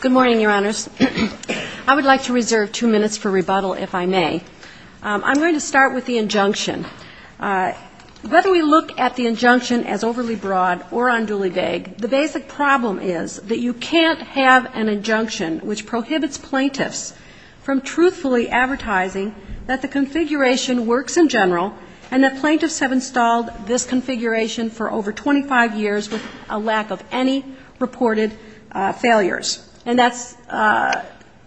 Good morning, Your Honors. I would like to reserve two minutes for rebuttal, if I may. I'm going to start with the injunction. Whether we look at the injunction as overly broad or unduly vague, the basic problem is that you can't have an injunction which prohibits plaintiffs from truthfully advertising that the configuration works in general and that a lack of any reported failures. And that's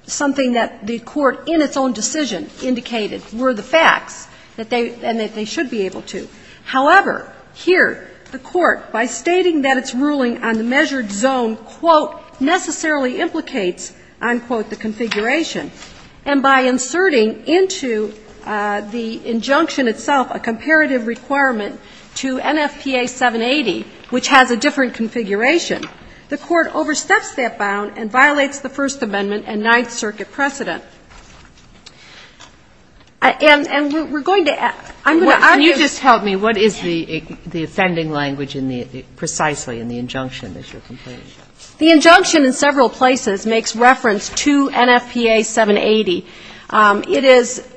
something that the Court in its own decision indicated were the facts, and that they should be able to. However, here, the Court, by stating that its ruling on the measured zone, quote, necessarily implicates, unquote, the configuration, and by inserting into the injunction itself a comparative requirement to NFPA 780, it has a different configuration. The Court oversteps that bound and violates the First Amendment and Ninth Circuit precedent. And we're going to ask, I'm going to argue Can you just help me? What is the offending language in the, precisely in the injunction that you're complaining about? The injunction in several places makes reference to NFPA 780. It is,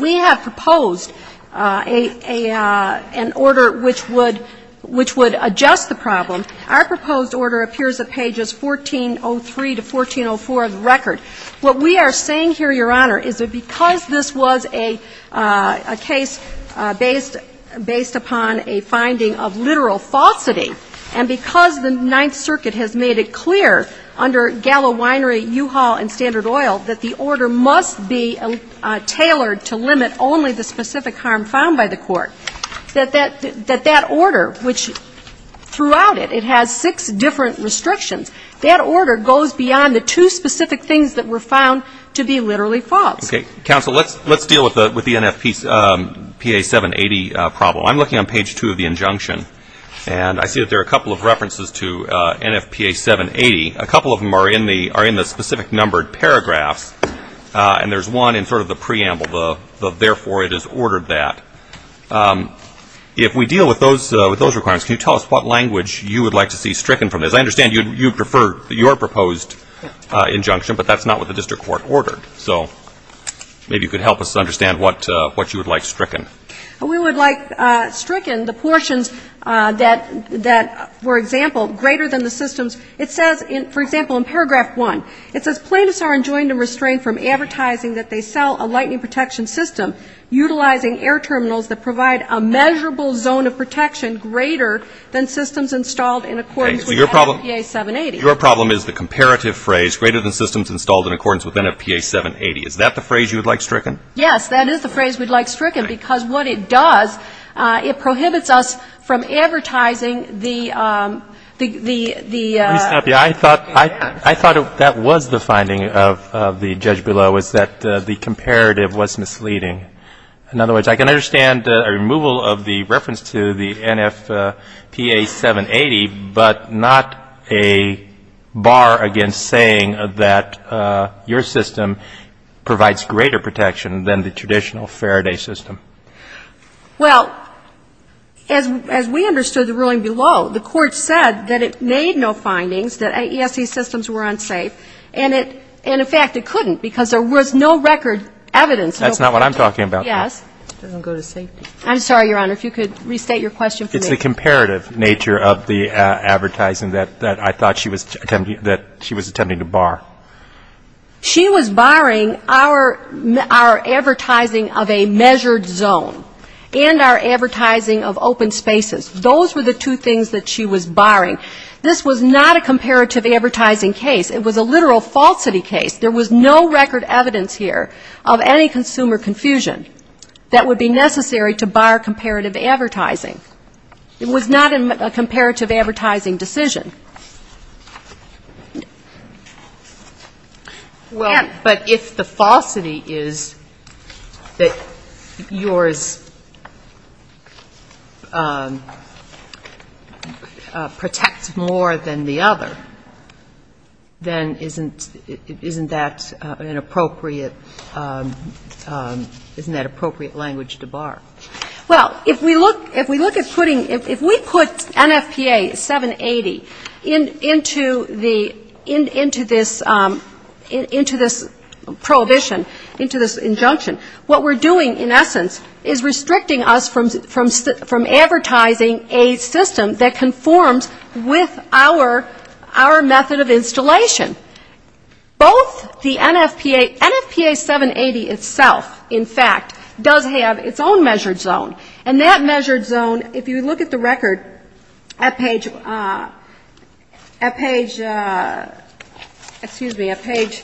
we have proposed an order which would adjust the problem. Our proposed order appears at pages 1403 to 1404 of the record. What we are saying here, Your Honor, is that because this was a case based upon a finding of literal falsity, and because the Ninth Circuit has made it clear under Gallo Winery, U-Haul, and Standard Oil that the order must be tailored to limit only the that that order, which throughout it, it has six different restrictions, that order goes beyond the two specific things that were found to be literally false. Okay. Counsel, let's deal with the NFPA 780 problem. I'm looking on page two of the injunction, and I see that there are a couple of references to NFPA 780. A couple of them are in the specific numbered paragraphs, and there's one in sort of the preamble, the therefore it is ordered that. If we deal with those requirements, can you tell us what language you would like to see stricken from this? I understand you prefer your proposed injunction, but that's not what the district court ordered. So maybe you could help us understand what you would like stricken. We would like stricken the portions that, for example, greater than the systems. It says, for example, in paragraph one, it says plaintiffs are enjoined and restrained from utilizing air terminals that provide a measurable zone of protection greater than systems installed in accordance with NFPA 780. Your problem is the comparative phrase, greater than systems installed in accordance with NFPA 780. Is that the phrase you would like stricken? Yes, that is the phrase we would like stricken, because what it does, it prohibits us from advertising the I thought that was the finding of the judge below, is that the comparative was misleading. In other words, I can understand a removal of the reference to the NFPA 780, but not a bar against saying that your system provides greater protection than the traditional Faraday system. Well, as we understood the ruling below, the court said that it made no findings that AESC systems were unsafe, and in fact it couldn't, because there was no record evidence. That's not what I'm talking about. Yes. I'm sorry, Your Honor, if you could restate your question for me. It's the comparative nature of the advertising that I thought she was attempting to bar. She was barring our advertising of a measured zone, and our advertising of open spaces. Those were the two things that she was barring. This was not a comparative advertising case. It was a literal falsity case. There was no record evidence here of any consumer confusion that would be necessary to bar comparative advertising. It was not a comparative advertising decision. But if the falsity is that yours protects more than the other, then it's not a comparative advertising decision, then isn't that an appropriate, isn't that appropriate language to bar? Well, if we look at putting, if we put NFPA 780 into this prohibition, into this injunction, what we're doing, in essence, is restricting us from advertising a system that conforms with our method of installation. Both the NFPA, NFPA 780 itself, in fact, does have its own measured zone. And that measured zone, if you look at the record at page, at page, excuse me, at page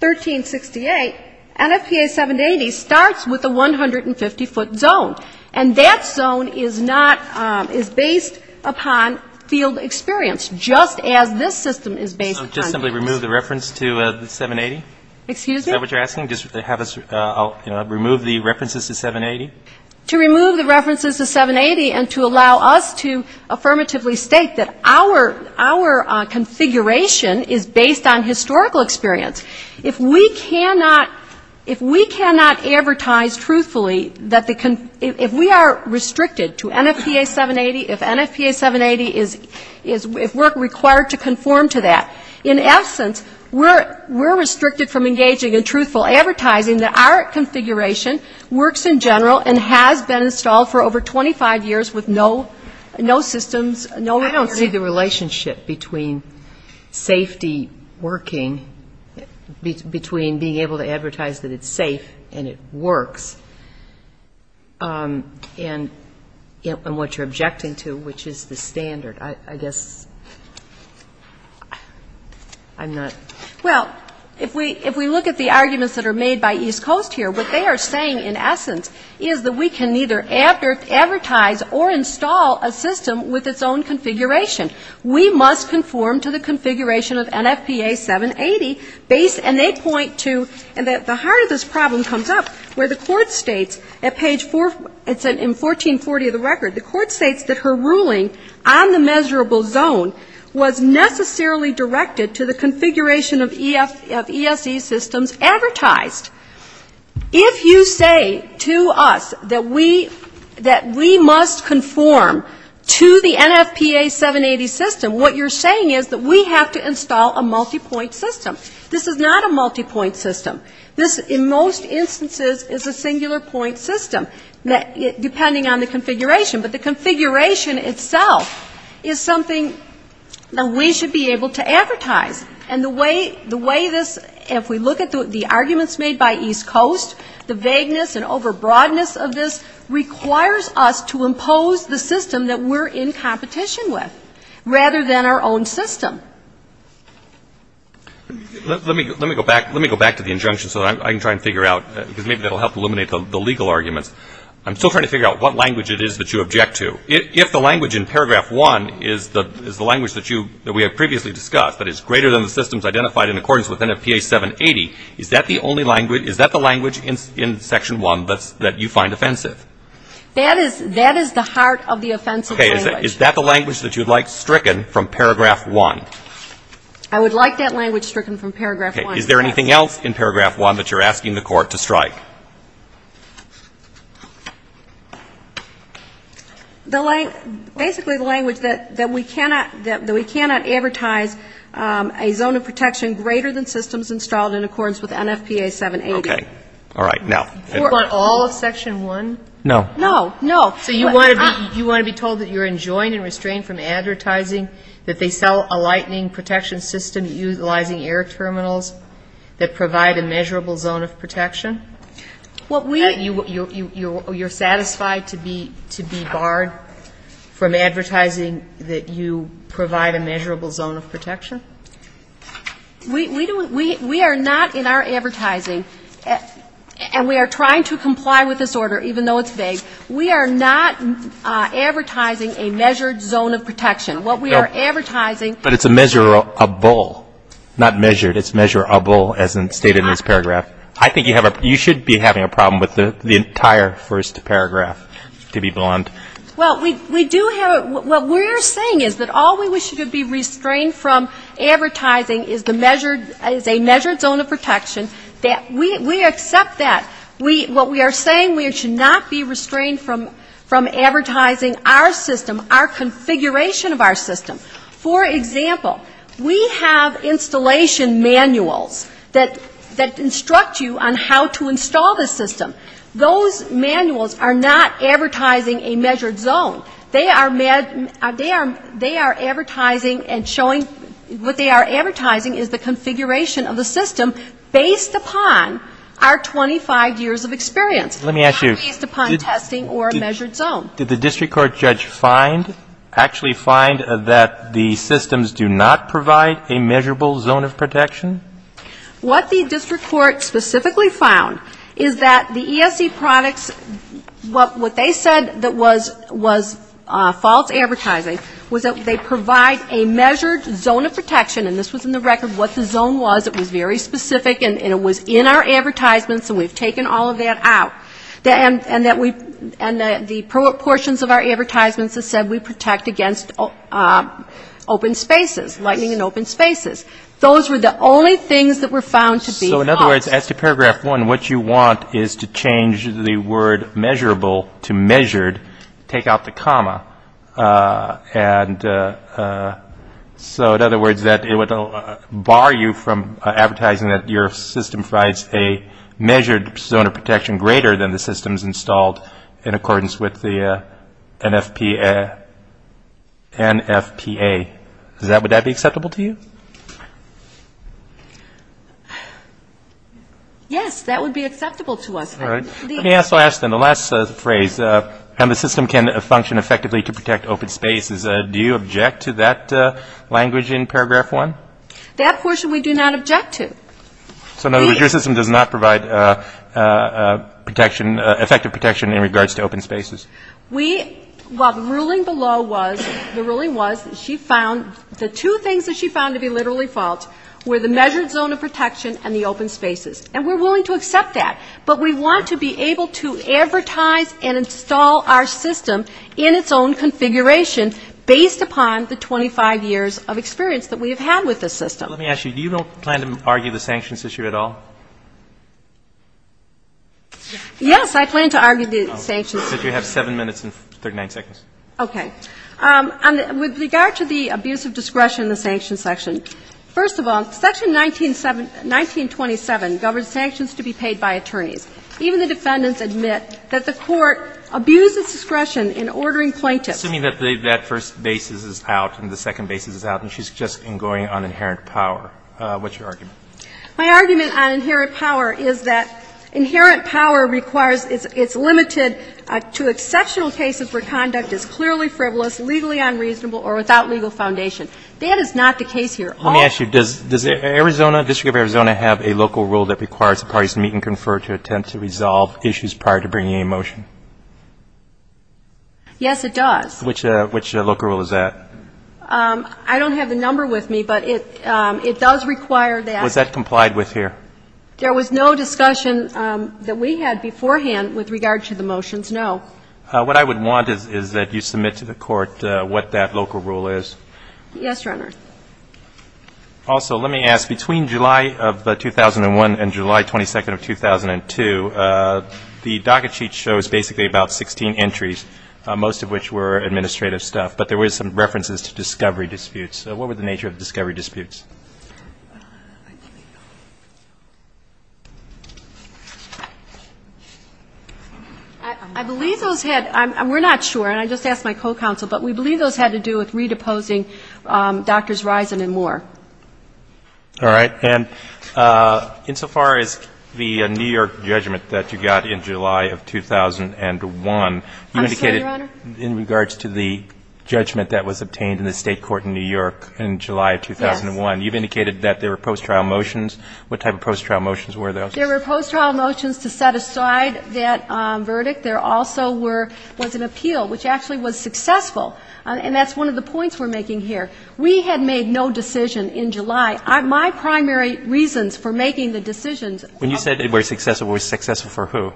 1368, NFPA 780 starts with a 150-foot zone. And that zone is not, is based upon field experience, just as this system is based upon that. So just simply remove the reference to the 780? Excuse me? Is that what you're asking? Just have us, you know, remove the references to 780? To remove the references to 780 and to allow us to affirmatively state that our, our configuration is based on historical experience. If we cannot, if we cannot advertise truthfully that the con, if we are restricted to NFPA 780, if NFPA 780 is, is, if we're required to conform to that, in essence, we're, we're restricted from engaging in truthful advertising that our configuration works in general and has been installed for over 25 years with no, no systems, no I don't see the relationship between safety working, between being able to advertise that it's safe and it works, and, and what you're objecting to, which is the standard. I guess I'm not Well, if we, if we look at the arguments that are made by East Coast here, what they are saying, in essence, is that we can neither advertise or install a system with its own configuration. We must conform to the configuration of NFPA 780 based, and they point to, and at the heart of this problem comes up where the court states at page 4, it's in 1440 of the record, the court states that her ruling on the measurable zone was necessarily directed to the configuration of ESE systems advertised. If you say to us that we, that we must conform to the NFPA 780 system, what you're saying is that we have to install a multipoint system. This is not a multipoint system. This, in most instances, is a singular point system, depending on the configuration, but the configuration itself is something that we should be able to advertise, and the way, the way this, if we look at the arguments made by East Coast, the vagueness and over-broadness of this requires us to impose the system that we're in competition with, rather than our own system. Let me, let me go back, let me go back to the injunction so that I can try and figure out, because maybe that will help eliminate the legal arguments. I'm still trying to figure out what language it is that you object to. If the language in paragraph 1 is the, is the language that you, that we have previously discussed, but it's greater than the systems identified in accordance with NFPA 780, is that the only language, is that the language in, in section 1 that's, that you find offensive? That is, that is the heart of the offensive language. Okay. Is that the language that you'd like stricken from paragraph 1? I would like that language stricken from paragraph 1. Okay. Is there anything else in paragraph 1 that you're asking the Court to strike? The, basically the language that, that we cannot, that we cannot advertise a zone of protection greater than systems installed in accordance with NFPA 780. Okay. All right. Now. For all of section 1? No. No. No. So you want to be, you want to be told that you're enjoined and restrained from advertising that they sell a lightning protection system utilizing air terminals that provide a measurable zone of protection? What we That you, you, you, you're satisfied to be, to be barred from advertising that you provide a measurable zone of protection? We, we do, we, we are not in our advertising, and we are trying to comply with this order, even though it's vague. We are not advertising a measured zone of protection. What we are advertising But it's measurable, not measured. It's measurable as stated in this paragraph. I think you have a, you should be having a problem with the entire first paragraph, to be blunt. Well, we, we do have, what we're saying is that all we wish to be restrained from advertising is the measured, is a measured zone of protection that we, we accept that. We, what we are saying we should not be restrained from, from advertising our system, our configuration of our system. For example, we have installation manuals that, that instruct you on how to install this system. Those manuals are not advertising a measured zone. They are, they are, they are advertising and showing, what they are advertising is the configuration of the system based upon our 25 years of experience. Let me ask you. Not based upon testing or a measured zone. Did the district court judge find, actually find that the systems do not provide a measurable zone of protection? What the district court specifically found is that the ESC products, what, what they said that was, was false advertising was that they provide a measured zone of protection. And this was in the record what the zone was. It was very specific and, and it was in our portions of our advertisements that said we protect against open spaces, lighting in open spaces. Those were the only things that were found to be false. So in other words, as to paragraph one, what you want is to change the word measurable to measured, take out the comma. And so in other words, that it would bar you from advertising that your system provides a measured zone of protection greater than the systems installed in accordance with the NFPA. Does that, would that be acceptable to you? Yes, that would be acceptable to us. All right. Let me also ask then, the last phrase, how the system can function effectively to protect open spaces. Do you object to that language in paragraph one? That portion we do not object to. So in other words, your system does not provide protection, effective protection in regards to open spaces? We, well, the ruling below was, the ruling was that she found, the two things that she found to be literally false were the measured zone of protection and the open spaces. And we're willing to accept that. But we want to be able to advertise and install our system in its own configuration based upon the 25 years of experience that we have had with the system. Let me ask you, do you plan to argue the sanctions issue at all? Yes, I plan to argue the sanctions issue. You have 7 minutes and 39 seconds. Okay. With regard to the abuse of discretion in the sanctions section, first of all, section 1927 governs sanctions to be paid by attorneys. Even the defendants admit that the Court abused its discretion in ordering plaintiffs Assuming that that first basis is out and the second basis is out and she's just going on inherent power. What's your argument? My argument on inherent power is that inherent power requires, it's limited to exceptional cases where conduct is clearly frivolous, legally unreasonable, or without legal foundation. That is not the case here. Let me ask you, does Arizona, District of Arizona have a local rule that requires the parties to meet and confer to attempt to resolve issues prior to bringing a motion? Yes, it does. Which local rule is that? I don't have the number with me, but it does require that. Was that complied with here? There was no discussion that we had beforehand with regard to the motions, no. What I would want is that you submit to the Court what that local rule is. Yes, Your Honor. Also, let me ask, between July of 2001 and July 22nd of 2002, the docket sheet shows basically about 16 entries, most of which were administrative stuff, but there were some references to discovery disputes. What were the nature of discovery disputes? I believe those had, we're not sure, and I just asked my co-counsel, but we believe those had to do with redeposing Drs. Risen and Moore. All right. And insofar as the New York judgment that you got in July of 2001, you indicated I'm sorry, Your Honor? In regards to the judgment that was obtained in the State Court in New York in July of 2001, you've indicated that there were post-trial motions. What type of post-trial motions were those? There were post-trial motions to set aside that verdict. There also were, was an appeal, which actually was successful, and that's one of the points we're making here. We had made no decision in July. My primary reasons for making the decisions When you said it was successful, it was successful for who?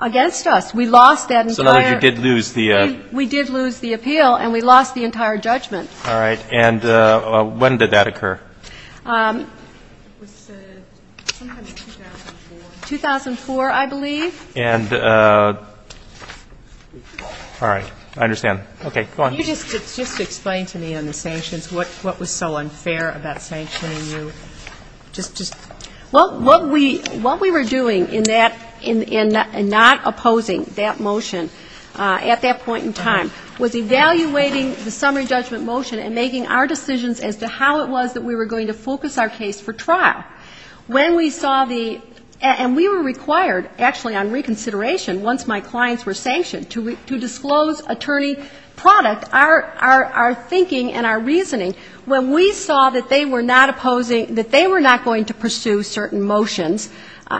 Against us. We lost that entire We did lose the appeal, and we lost the entire judgment. All right. And when did that occur? It was sometime in 2004. 2004, I believe. And all right. I understand. Okay. Go on. Can you just explain to me on the sanctions what was so unfair about sanctioning you? Well, what we were doing in that, in not opposing that motion, at that point in time, was evaluating the summary judgment motion and making our decisions as to how it was that we were going to focus our case for trial. When we saw the, and we were required, actually on reconsideration, once my clients were sanctioned, to disclose attorney product, our thinking and our reasoning. When we saw that they were not opposing, that they were not going to pursue certain motions,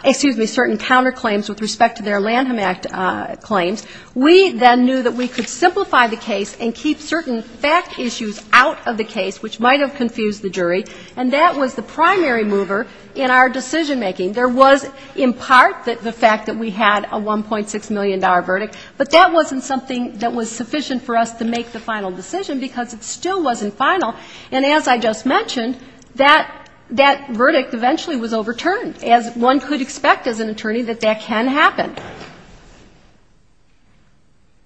excuse me, certain counterclaims with respect to their Lanham Act claims, we then knew that we could simplify the case and keep certain fact issues out of the case, which might have confused the jury. And that was the primary mover in our decision making. There was, in part, the fact that we had a $1.6 million verdict. But that wasn't something that was sufficient for us to make the final decision because it still wasn't final. And as I just mentioned, that verdict eventually was overturned, as one could expect as an attorney, that that can happen.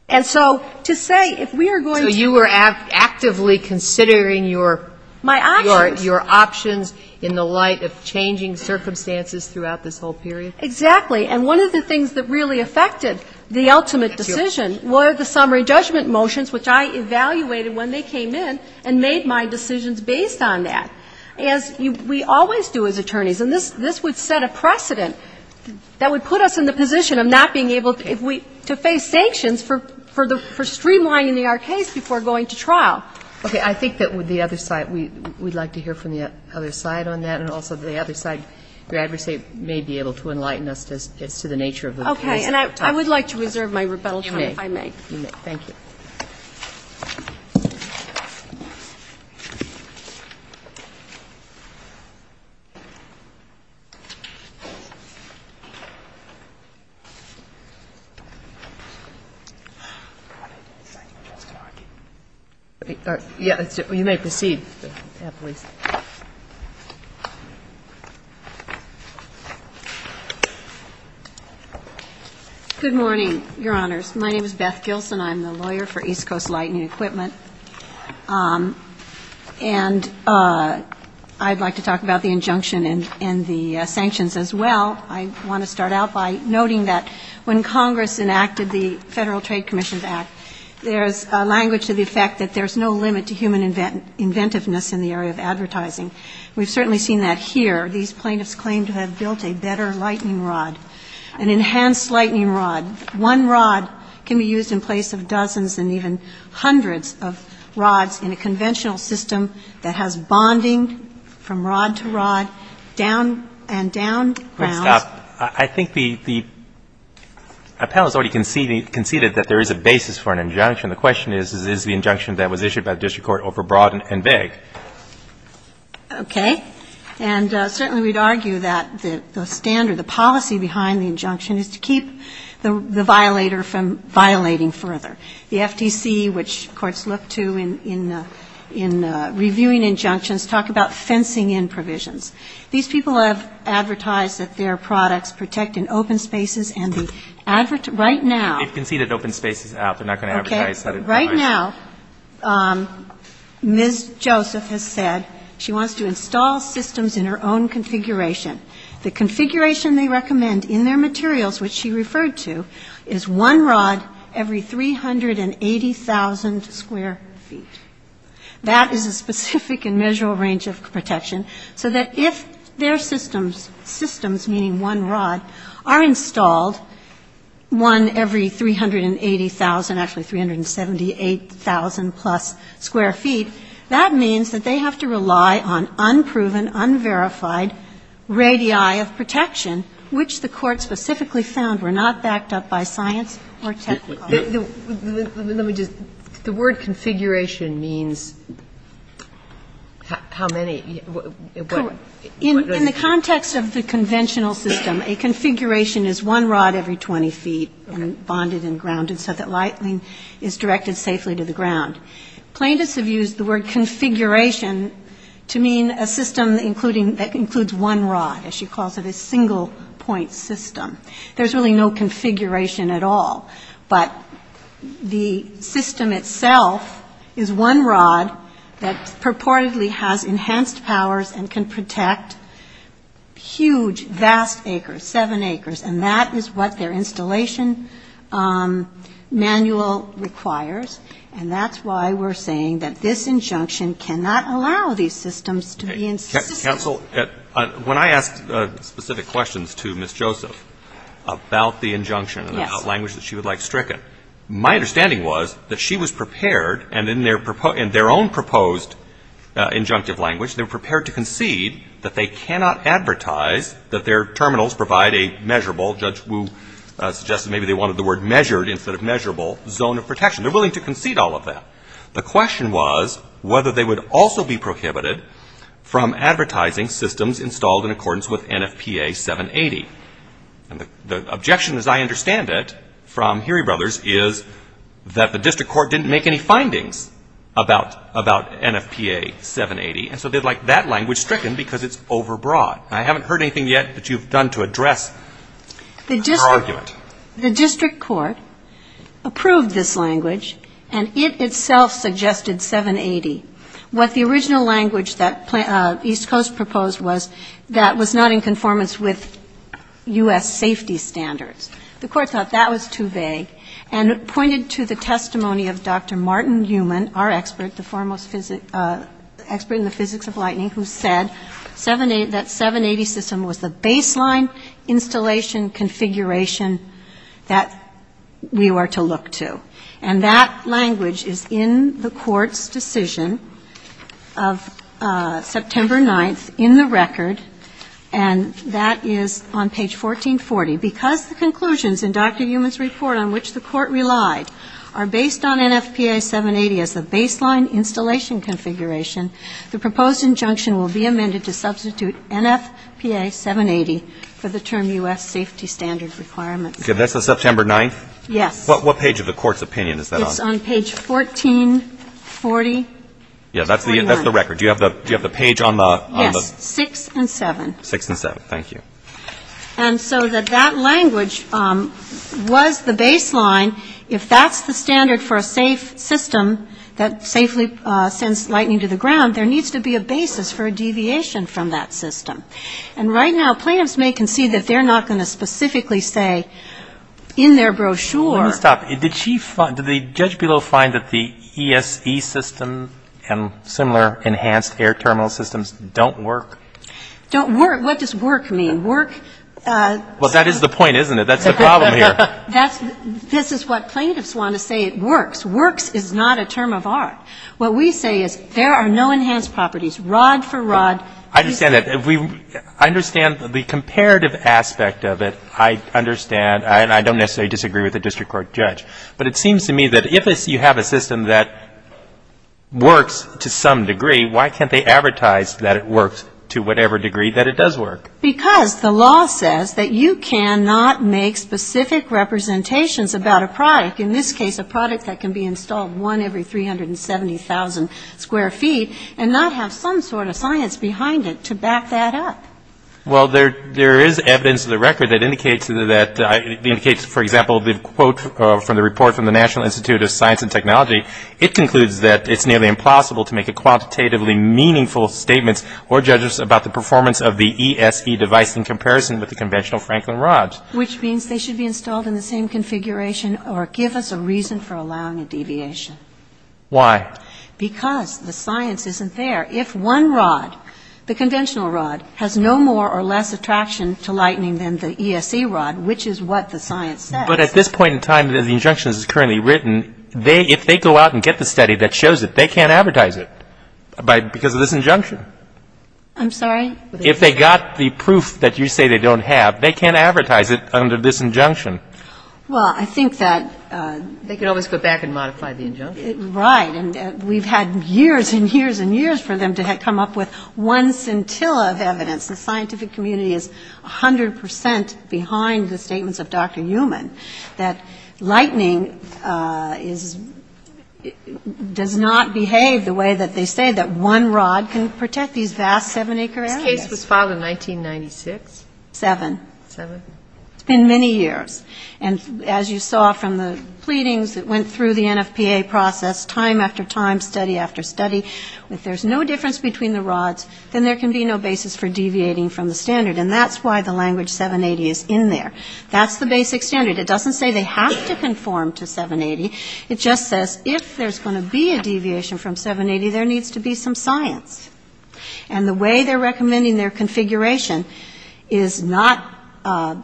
And so, to say, if we are going to- So you were actively considering your- My options. Your options in the light of changing circumstances throughout this whole period? Exactly. And one of the things that really affected the ultimate decision were the summary judgment motions, which I evaluated when they came in and made my decisions based on that. As we always do as attorneys, and this would set a precedent that would put us in the position of not being able to face sanctions for streamlining our case before going to trial. Okay. I think that with the other side, we'd like to hear from the other side on that. And also the other side, your adversary may be able to enlighten us as to the nature of the case. Okay. And I would like to reserve my rebuttal time, if I may. You may. You may. Thank you. Good morning, your honors. My name is Beth Gilson. I'm the lawyer for East Coast Lightning Equipment. And I'd like to talk about the injunction and the sanctions as well. I want to start out by noting that when Congress enacted the Federal Trade Commission Act, there's a language to the effect that there's no limit to human inventiveness in the area of advertising. We've certainly seen that here. These plaintiffs claim to have built a better lightning rod, an enhanced lightning rod. One rod can be used in place of dozens and even hundreds of rods in a conventional system that has bonding from rod to rod, down and down grounds. I think the panel has already conceded that there is a basis for an injunction. The question is, is the injunction that was issued by the district court overbroad and vague? Okay. And certainly we'd argue that the standard, the policy behind the injunction is to keep the violator from violating further. The FTC, which courts look to in reviewing injunctions, talk about fencing in provisions. These people have advertised that their products protect in open spaces, and the advertisers right now. They've conceded open spaces out. They're not going to advertise that it provides. Okay. Right now, Ms. Joseph has said she wants to install systems in her own configuration. The configuration they recommend in their materials, which she referred to, is one rod every 380,000 square feet. That is a specific and measurable range of protection, so that if their systems, meaning one rod, are installed, one every 380,000, actually 378,000 plus square feet, that means that they have to rely on unproven, unverified radii of protection, which the court specifically found were not backed up by science or technology. Let me just, the word configuration means how many, what does it mean? In the context of the conventional system, a configuration is one rod every 20 feet bonded and grounded so that lightning is directed safely to the ground. Plaintiffs have used the word configuration to mean a system that includes one rod, as she calls it, a single point system. There's really no configuration at all, but the system itself is one rod that purportedly has enhanced powers and can protect huge, vast acres, seven acres, and that is what their installation manual requires, and that's why we're saying that this injunction cannot allow these systems to be in system. Counsel, when I asked specific questions to Ms. Joseph about the injunction and the language that she would like stricken, my understanding was that she was prepared, and in their own proposed injunctive language, they were prepared to concede that they cannot advertise that their terminals provide a measurable, Judge Wu suggested maybe they wanted the word measured instead of measurable, zone of protection. They're willing to concede all of that. The question was whether they would also be prohibited from advertising systems installed in accordance with NFPA 780, and the objection, as I understand it, from Heery Brothers is that the district court didn't make any findings about NFPA 780, and so they'd like that language stricken because it's overbroad. I haven't heard anything yet that you've done to address her argument. The district court approved this language, and it itself suggested 780. What the original language that East Coast proposed was that was not in conformance with U.S. safety standards. The court thought that was too vague, and it pointed to the testimony of Dr. Martin Heumann, our expert, the foremost expert in the physics of lightning, who said that 780 system was the baseline installation configuration that we were to look to. And that language is in the court's decision of September 9th in the record, and that is on page 1440, because the conclusions in Dr. Heumann's report on which the court relied are based on NFPA 780 as the baseline installation configuration. The proposed injunction will be amended to substitute NFPA 780 for the term U.S. safety standard requirements. Okay. That's on September 9th? Yes. What page of the court's opinion is that on? It's on page 1440. Yeah. That's the record. Do you have the page on the? Yes. 6 and 7. 6 and 7. Thank you. And so that that language was the baseline. If that's the standard for a safe system that safely sends lightning to the ground, there needs to be a basis for a deviation from that system. And right now, plaintiffs may concede that they're not going to specifically say in their brochure. Let me stop. Did she find, did the judge below find that the ESE system and similar enhanced air terminal systems don't work? Don't work? What does work mean? Work? Well, that is the point, isn't it? That's the problem here. This is what plaintiffs want to say it works. Works is not a term of art. What we say is there are no enhanced properties. Rod for rod. I understand that. I understand the comparative aspect of it. I understand, and I don't necessarily disagree with the district court judge. But it seems to me that if you have a system that works to some degree, why can't they advertise that it works to whatever degree that it does work? Because the law says that you cannot make specific representations about a product, in this case a product that can be installed one every 370,000 square feet, and not have some sort of science behind it to back that up. Well, there is evidence of the record that indicates that, for example, the quote from the report from the National Institute of Science and Technology, it concludes that it's nearly impossible to make a quantitatively meaningful statement or judge us about the performance of the ESE device in comparison with the conventional Franklin rods. Which means they should be installed in the same configuration or give us a reason for allowing a deviation. Why? Because the science isn't there. If one rod, the conventional rod, has no more or less attraction to lightening than the ESE rod, which is what the science says. But at this point in time, the injunction is currently written, if they go out and get the study that shows it, they can't advertise it because of this injunction. I'm sorry? If they got the proof that you say they don't have, they can't advertise it under this injunction. Well, I think that they can always go back and modify the injunction. Right. And we've had years and years and years for them to come up with one scintilla of evidence. The scientific community is 100 percent behind the statements of Dr. Uman that lightening is does not behave the way that they say that one rod can provide and protect these vast seven-acre areas. This case was filed in 1996? Seven. Seven. It's been many years. And as you saw from the pleadings that went through the NFPA process, time after time, study after study, if there's no difference between the rods, then there can be no basis for deviating from the standard. And that's why the language 780 is in there. That's the basic standard. It doesn't say they have to conform to 780. It just says if there's going to be a deviation from 780, there needs to be some science. And the way they're recommending their configuration is not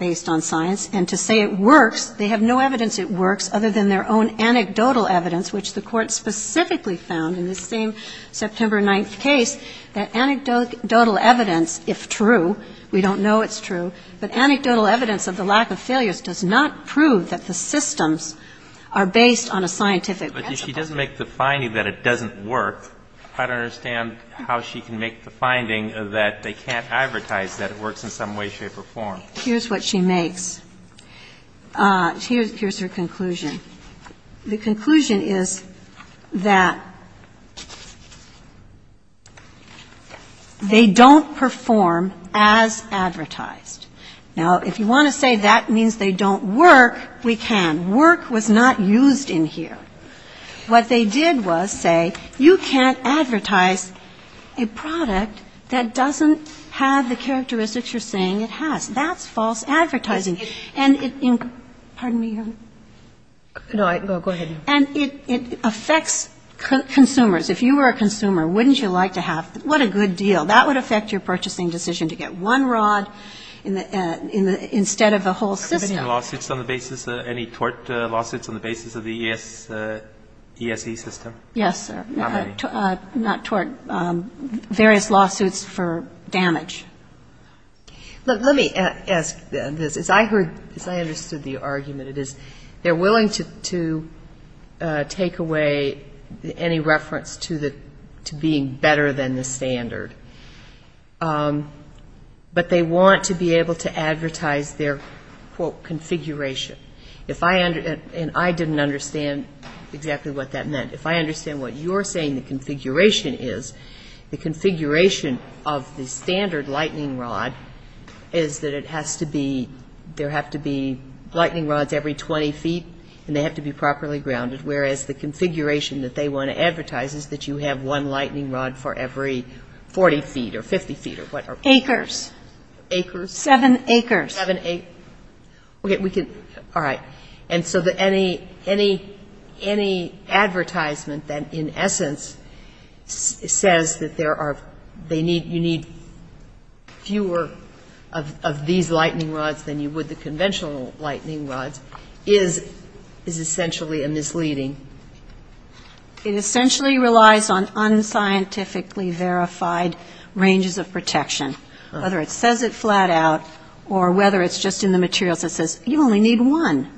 based on science. And to say it works, they have no evidence it works other than their own anecdotal evidence, which the Court specifically found in this same September 9th case, that anecdotal evidence, if true, we don't know it's true, but anecdotal evidence of the lack of failures does not prove that the systems are based on a scientific principle. But if she doesn't make the finding that it doesn't work, I don't understand how she can make the finding that they can't advertise that it works in some way, shape or form. Here's what she makes. Here's her conclusion. The conclusion is that they don't perform as advertised. Now, if you want to say that means they don't work, we can. Work was not used in here. What they did was say you can't advertise a product that doesn't have the characteristics you're saying it has. That's false advertising. And it – pardon me, Your Honor. No, go ahead. And it affects consumers. If you were a consumer, wouldn't you like to have – what a good deal. That would affect your purchasing decision to get one rod in the – instead of a whole system. Any lawsuits on the basis – any tort lawsuits on the basis of the ESE system? Yes, sir. How many? Not tort. Various lawsuits for damage. Look, let me ask this. As I heard – as I understood the argument, it is they're willing to take away any reference to the – to being better than the standard. But they want to be able to advertise their, quote, configuration. If I – and I didn't understand exactly what that meant. If I understand what you're saying the configuration is, the configuration of the standard lightning rod is that it has to be – there have to be lightning rods every 20 feet and they have to be properly grounded, whereas the configuration that they want to advertise is that you have to have one lightning rod for every 40 feet or 50 feet or whatever. Acres. Acres? Seven acres. Seven acres. Okay. We can – all right. And so any advertisement that in essence says that there are – they need – you need fewer of these lightning rods than you would the conventional lightning rods is essentially a misleading – it essentially relies on unscientifically verified ranges of protection, whether it says it flat out or whether it's just in the materials that says you only need one.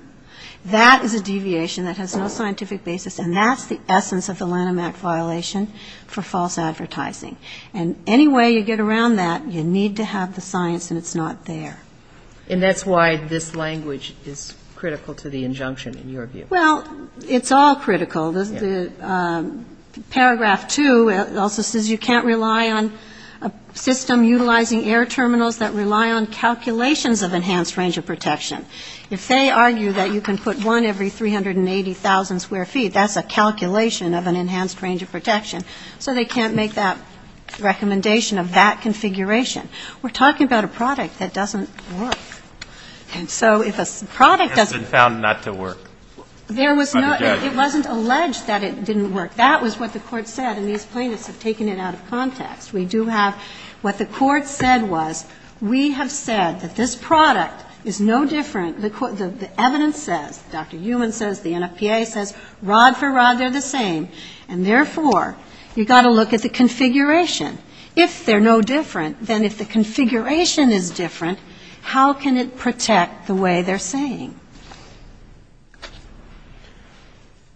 That is a deviation that has no scientific basis and that's the essence of the Lanham Act violation for false advertising. And any way you get around that, you need to have the science and it's not there. And that's why this language is critical to the injunction in your view. Well, it's all critical. Paragraph 2 also says you can't rely on a system utilizing air terminals that rely on calculations of enhanced range of protection. If they argue that you can put one every 380,000 square feet, that's a calculation of an enhanced range of protection. So they can't make that recommendation of that configuration. We're talking about a product that doesn't work. And so if a product doesn't – There was no – it wasn't alleged that it didn't work. That was what the court said and these plaintiffs have taken it out of context. We do have – what the court said was we have said that this product is no different – the evidence says, Dr. Heumann says, the NFPA says, rod for rod they're the same. And therefore, you've got to look at the configuration. If they're no different, then if the configuration is different, how can it protect the way they're saying? Do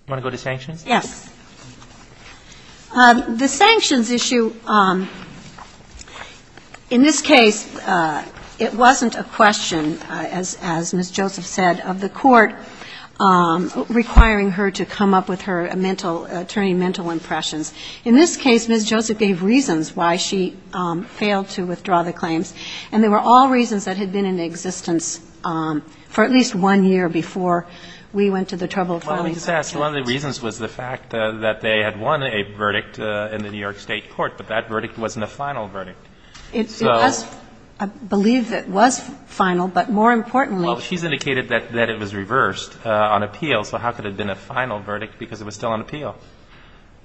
you want to go to sanctions? Yes. The sanctions issue, in this case, it wasn't a question, as Ms. Joseph said, of the court requiring her to come up with her mental – attorney mental impressions. In this case, Ms. Joseph gave reasons why she failed to withdraw the claims. And they were all reasons that had been in existence for at least one year before we went to the trouble of filing the claims. Well, let me just ask, one of the reasons was the fact that they had won a verdict in the New York State court, but that verdict wasn't a final verdict. It was – I believe it was final, but more importantly – Well, she's indicated that it was reversed on appeal, so how could it have been a final verdict because it was still on appeal?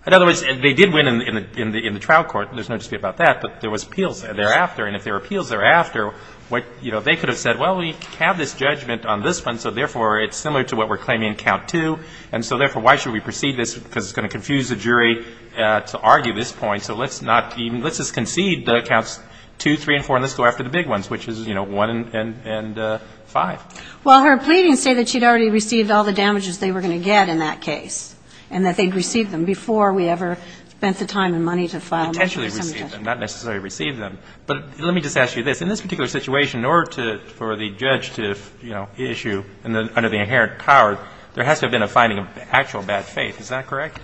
In other words, they did win in the trial court. There's no dispute about that, but there was appeals thereafter. And if there were appeals thereafter, what – you know, they could have said, well, we have this judgment on this one, so therefore, it's similar to what we're claiming in count two, and so therefore, why should we proceed this because it's going to confuse the jury to argue this point, so let's not even – let's just concede the counts two, three, and four, and let's go after the big ones, which is, you know, one and five. Well, her pleadings say that she'd already received all the damages they were going to get in that case, and that they'd received them before we ever spent the time and money to file them. Potentially received them, not necessarily received them. But let me just ask you this. In this particular situation, in order to – for the judge to, you know, issue under the inherent power, there has to have been a finding of actual bad faith. Is that correct?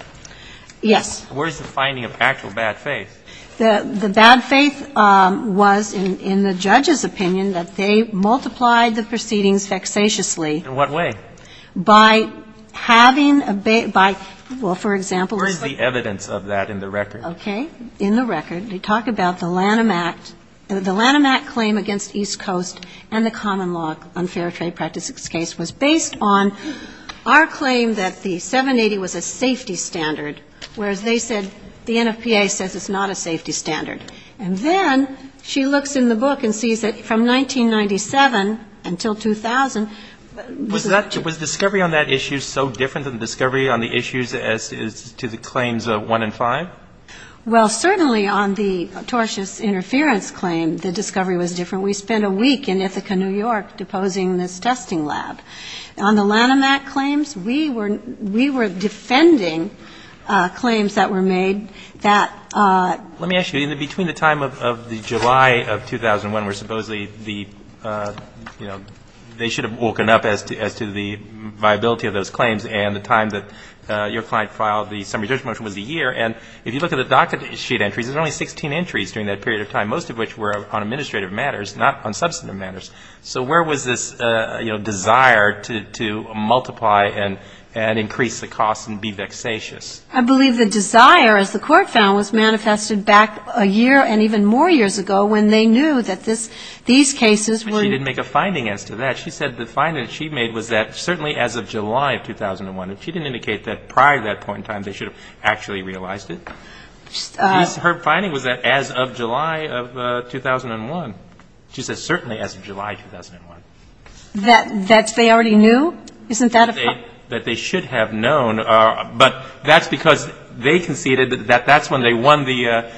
Yes. Where is the finding of actual bad faith? The bad faith was, in the judge's opinion, that they multiplied the proceedings vexatiously. In what way? By having a – by – well, for example, it's like – Where is the evidence of that in the record? Okay. In the record, they talk about the Lanham Act – the Lanham Act claim against East Coast and the common law unfair trade practices case was based on our claim that the 780 was a safety standard, whereas they said – the NFPA says it's not a safety standard. And then she looks in the book and sees that from 1997 until 2000, this is – Was discovery on that issue so different than discovery on the issues as to the claims of one and five? Well, certainly on the tortious interference claim, the discovery was different. We spent a week in Ithaca, New York, deposing this testing lab. On the Lanham Act claims, we were – we were defending claims that were made that – Let me ask you, in the – between the time of the July of 2001, where supposedly the – you know, they should have woken up as to the viability of those claims and the time that your client filed the summary judgment motion was a year. And if you look at the docket sheet entries, there's only 16 entries during that period of time, most of which were on administrative matters, not on substantive matters. So where was this, you know, desire to multiply and increase the cost and be vexatious? I believe the desire, as the Court found, was manifested back a year and even more years ago when they knew that this – these cases were – But she didn't make a finding as to that. She said the finding that she made was that certainly as of July of 2001. And she didn't indicate that prior to that point in time, they should have actually realized it. Her finding was that as of July of 2001. She said certainly as of July of 2001. That they already knew? Isn't that a fact? That they should have known, but that's because they conceded that that's when they won the,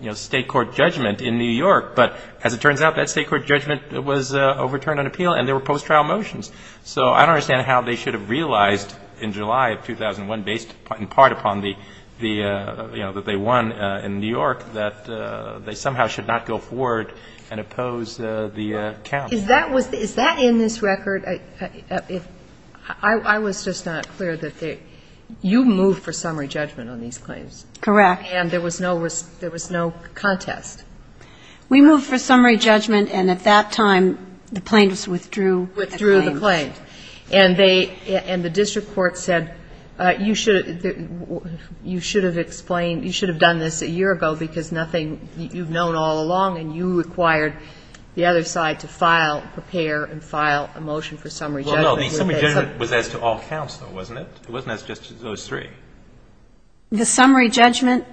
you know, State court judgment in New York. But as it turns out, that State court judgment was overturned on appeal, and there were post-trial motions. So I don't understand how they should have realized in July of 2001, based in part upon the, you know, that they won in New York, that they somehow should not go forward and oppose the count. Is that was – is that in this record? I was just not clear that they – you moved for summary judgment on these claims. Correct. And there was no – there was no contest? We moved for summary judgment, and at that time, the plaintiffs withdrew the claim. Withdrew the claim. And they – and the district court said you should – you should have explained – you should have done this a year ago, because nothing – you've known all along, and you required the other side to file, prepare, and file a motion for summary judgment. Well, no. The summary judgment was as to all counts, though, wasn't it? It wasn't as just to those three. The summary judgment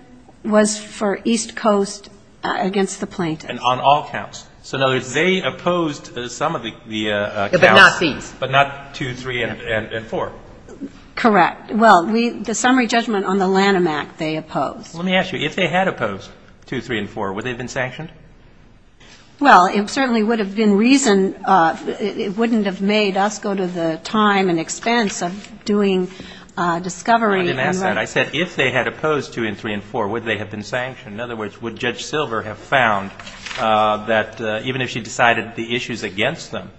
was for East Coast against the plaintiffs. And on all counts. So in other words, they opposed some of the counts. But not these. But not two, three, and four. Correct. Well, we – the summary judgment on the Lanham Act, they opposed. Let me ask you. If they had opposed two, three, and four, would they have been sanctioned? Well, it certainly would have been reason – it wouldn't have made us go to the time and expense of doing discovery. I didn't ask that. I said if they had opposed two and three and four, would they have been sanctioned? In other words, would Judge Silver have found that even if she decided the issues against them,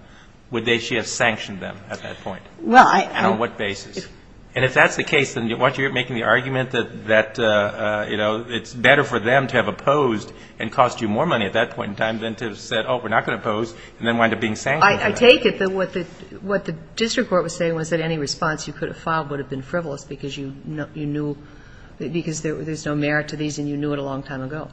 would they – she have sanctioned them at that point? Well, I – And on what basis? And if that's the case, then why aren't you making the argument that, you know, it's better for them to have opposed and cost you more money at that point in time than to have said, oh, we're not going to oppose, and then wind up being sanctioned? I take it that what the – what the district court was saying was that any response you could have filed would have been frivolous because you knew – because there's no merit to these, and you knew it a long time ago.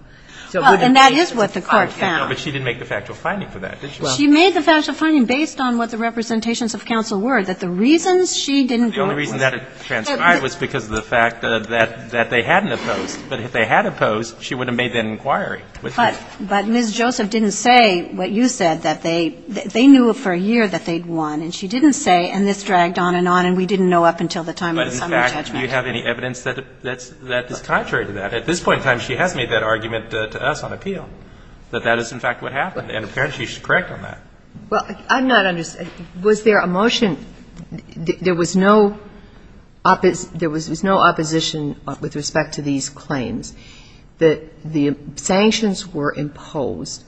So it wouldn't make sense to file a case. Well, and that is what the court found. But she didn't make the factual finding for that, did she? She made the factual finding based on what the representations of counsel were, that the reasons she didn't go – The only reason that it transcribed was because of the fact that they hadn't opposed. But if they had opposed, she would have made that inquiry. But Ms. Joseph didn't say what you said, that they – they knew for a year that they'd won. And she didn't say, and this dragged on and on, and we didn't know up until the time of the summary judgment. But in fact, do you have any evidence that – that is contrary to that? At this point in time, she has made that argument to us on appeal, that that is, in fact, what happened. And apparently, she's correct on that. Well, I'm not – was there a motion – there was no – there was no opposition with respect to these claims. The sanctions were imposed.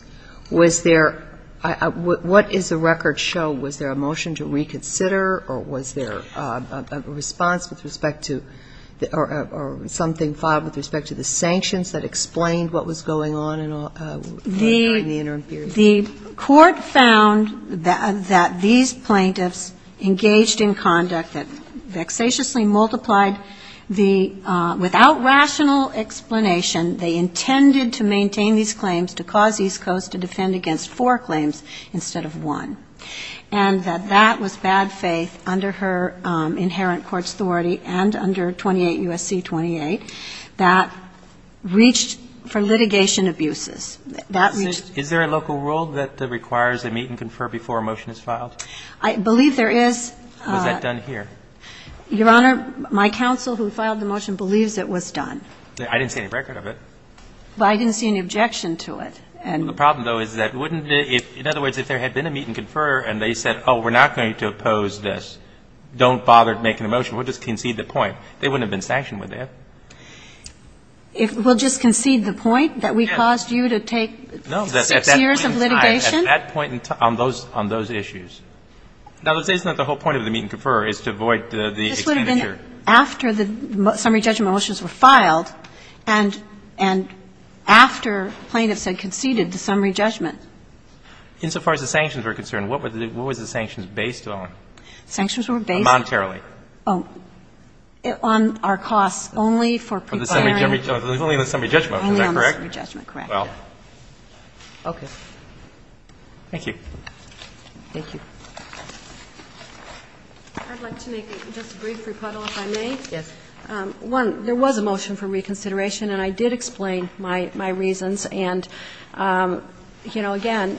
Was there – what does the record show? Was there a motion to reconsider, or was there a response with respect to – or something filed with respect to the sanctions that explained what was going on in all – during the interim period? The court found that these plaintiffs engaged in conduct that vexatiously multiplied the – without rational explanation, they intended to maintain these claims to cause East Coast to defend against four claims instead of one. And that that was bad faith under her inherent court's authority and under 28 U.S.C. 28 that reached for litigation abuses. That reached – Is there a local rule that requires a meet and confer before a motion is filed? I believe there is. Was that done here? Your Honor, my counsel who filed the motion believes it was done. I didn't see any record of it. But I didn't see any objection to it. The problem, though, is that wouldn't it – in other words, if there had been a meet and confer and they said, oh, we're not going to oppose this, don't bother making a motion, we'll just concede the point, they wouldn't have been sanctioned with it. We'll just concede the point that we caused you to take six years of litigation? No, at that point in time, on those issues. Now, the reason that the whole point of the meet and confer is to avoid the expenditure. Even after the summary judgment motions were filed and – and after plaintiffs had conceded the summary judgment. Insofar as the sanctions were concerned, what were the – what were the sanctions based on? Sanctions were based on – Monetarily. Oh, on our costs only for preparing – Only on the summary judgment, is that correct? Only on the summary judgment, correct. Well, okay. Thank you. Thank you. I'd like to make just a brief rebuttal, if I may. Yes. One, there was a motion for reconsideration, and I did explain my – my reasons. And, you know, again,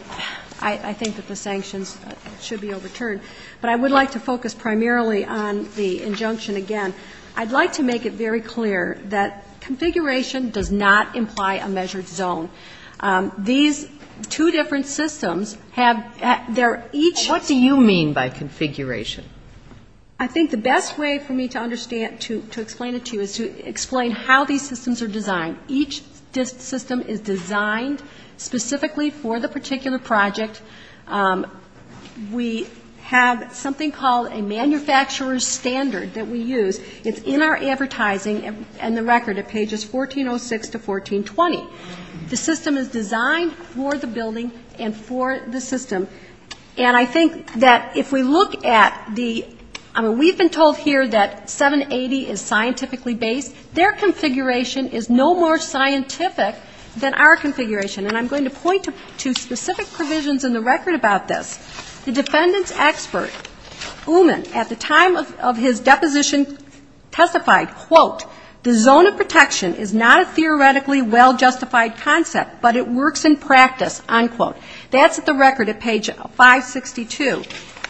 I – I think that the sanctions should be overturned. But I would like to focus primarily on the injunction again. I'd like to make it very clear that configuration does not imply a measured zone. These two different systems have – they're each – What do you mean by configuration? I think the best way for me to understand – to explain it to you is to explain how these systems are designed. Each system is designed specifically for the particular project. We have something called a manufacturer's standard that we use. It's in our advertising and the record at pages 1406 to 1420. The system is designed for the building and for the system. And I think that if we look at the – I mean, we've been told here that 780 is scientifically based. Their configuration is no more scientific than our configuration. And I'm going to point to specific provisions in the record about this. The defendant's expert, Uman, at the time of his deposition testified, quote, the zone of protection is not a theoretically well-justified concept, but it works in practice, unquote. That's at the record at page 562.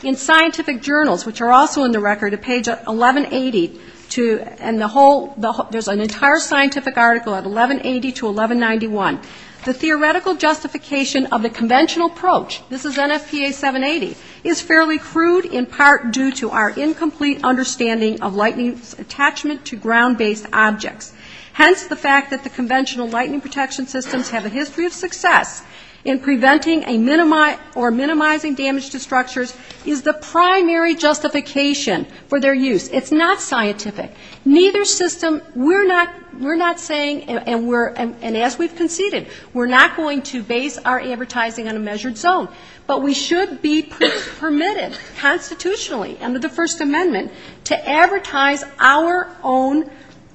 In scientific journals, which are also in the record at page 1180 to – and the whole – there's an entire scientific article at 1180 to 1191. The theoretical justification of the conventional approach – this is NFPA 780 – is fairly crude in part due to our incomplete understanding of lightning's attachment to ground-based objects. Hence, the fact that the conventional lightning protection systems have a history of success in preventing a – or minimizing damage to structures is the primary justification for their use. It's not scientific. Neither system – we're not saying – and as we've conceded, we're not going to base our advertising on a measured zone. But we should be permitted constitutionally under the First Amendment to advertise our own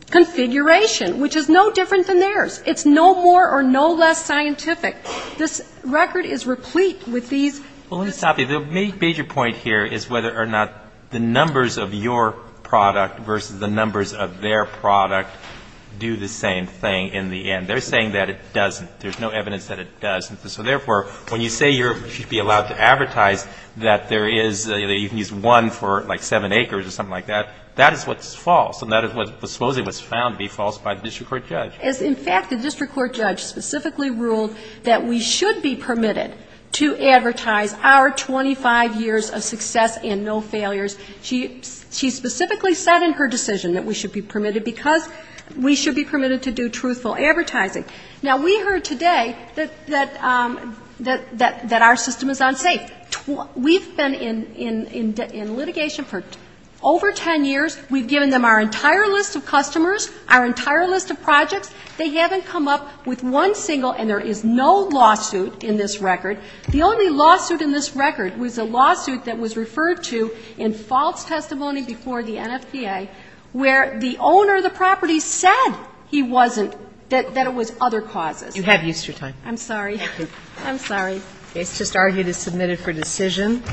configuration, which is no different than theirs. It's no more or no less scientific. This record is replete with these – Well, let me stop you. The major point here is whether or not the numbers of your product versus the numbers of their product do the same thing in the end. They're saying that it doesn't. There's no evidence that it doesn't. So therefore, when you say you should be allowed to advertise that there is – that you can use one for, like, seven acres or something like that, that is what's false. And that is supposedly what's found to be false by the district court judge. As, in fact, the district court judge specifically ruled that we should be permitted to advertise our 25 years of success and no failures. She specifically said in her decision that we should be permitted because we should be permitted to do truthful advertising. Now, we heard today that our system is unsafe. We've been in litigation for over 10 years. We've given them our entire list of customers, our entire list of projects. They haven't come up with one single – and there is no lawsuit in this record. The only lawsuit in this record was a lawsuit that was referred to in false testimony before the NFPA where the owner of the property said he wasn't – that it was other causes. You have Easter time. I'm sorry. I'm sorry. It's just argued as submitted for decision.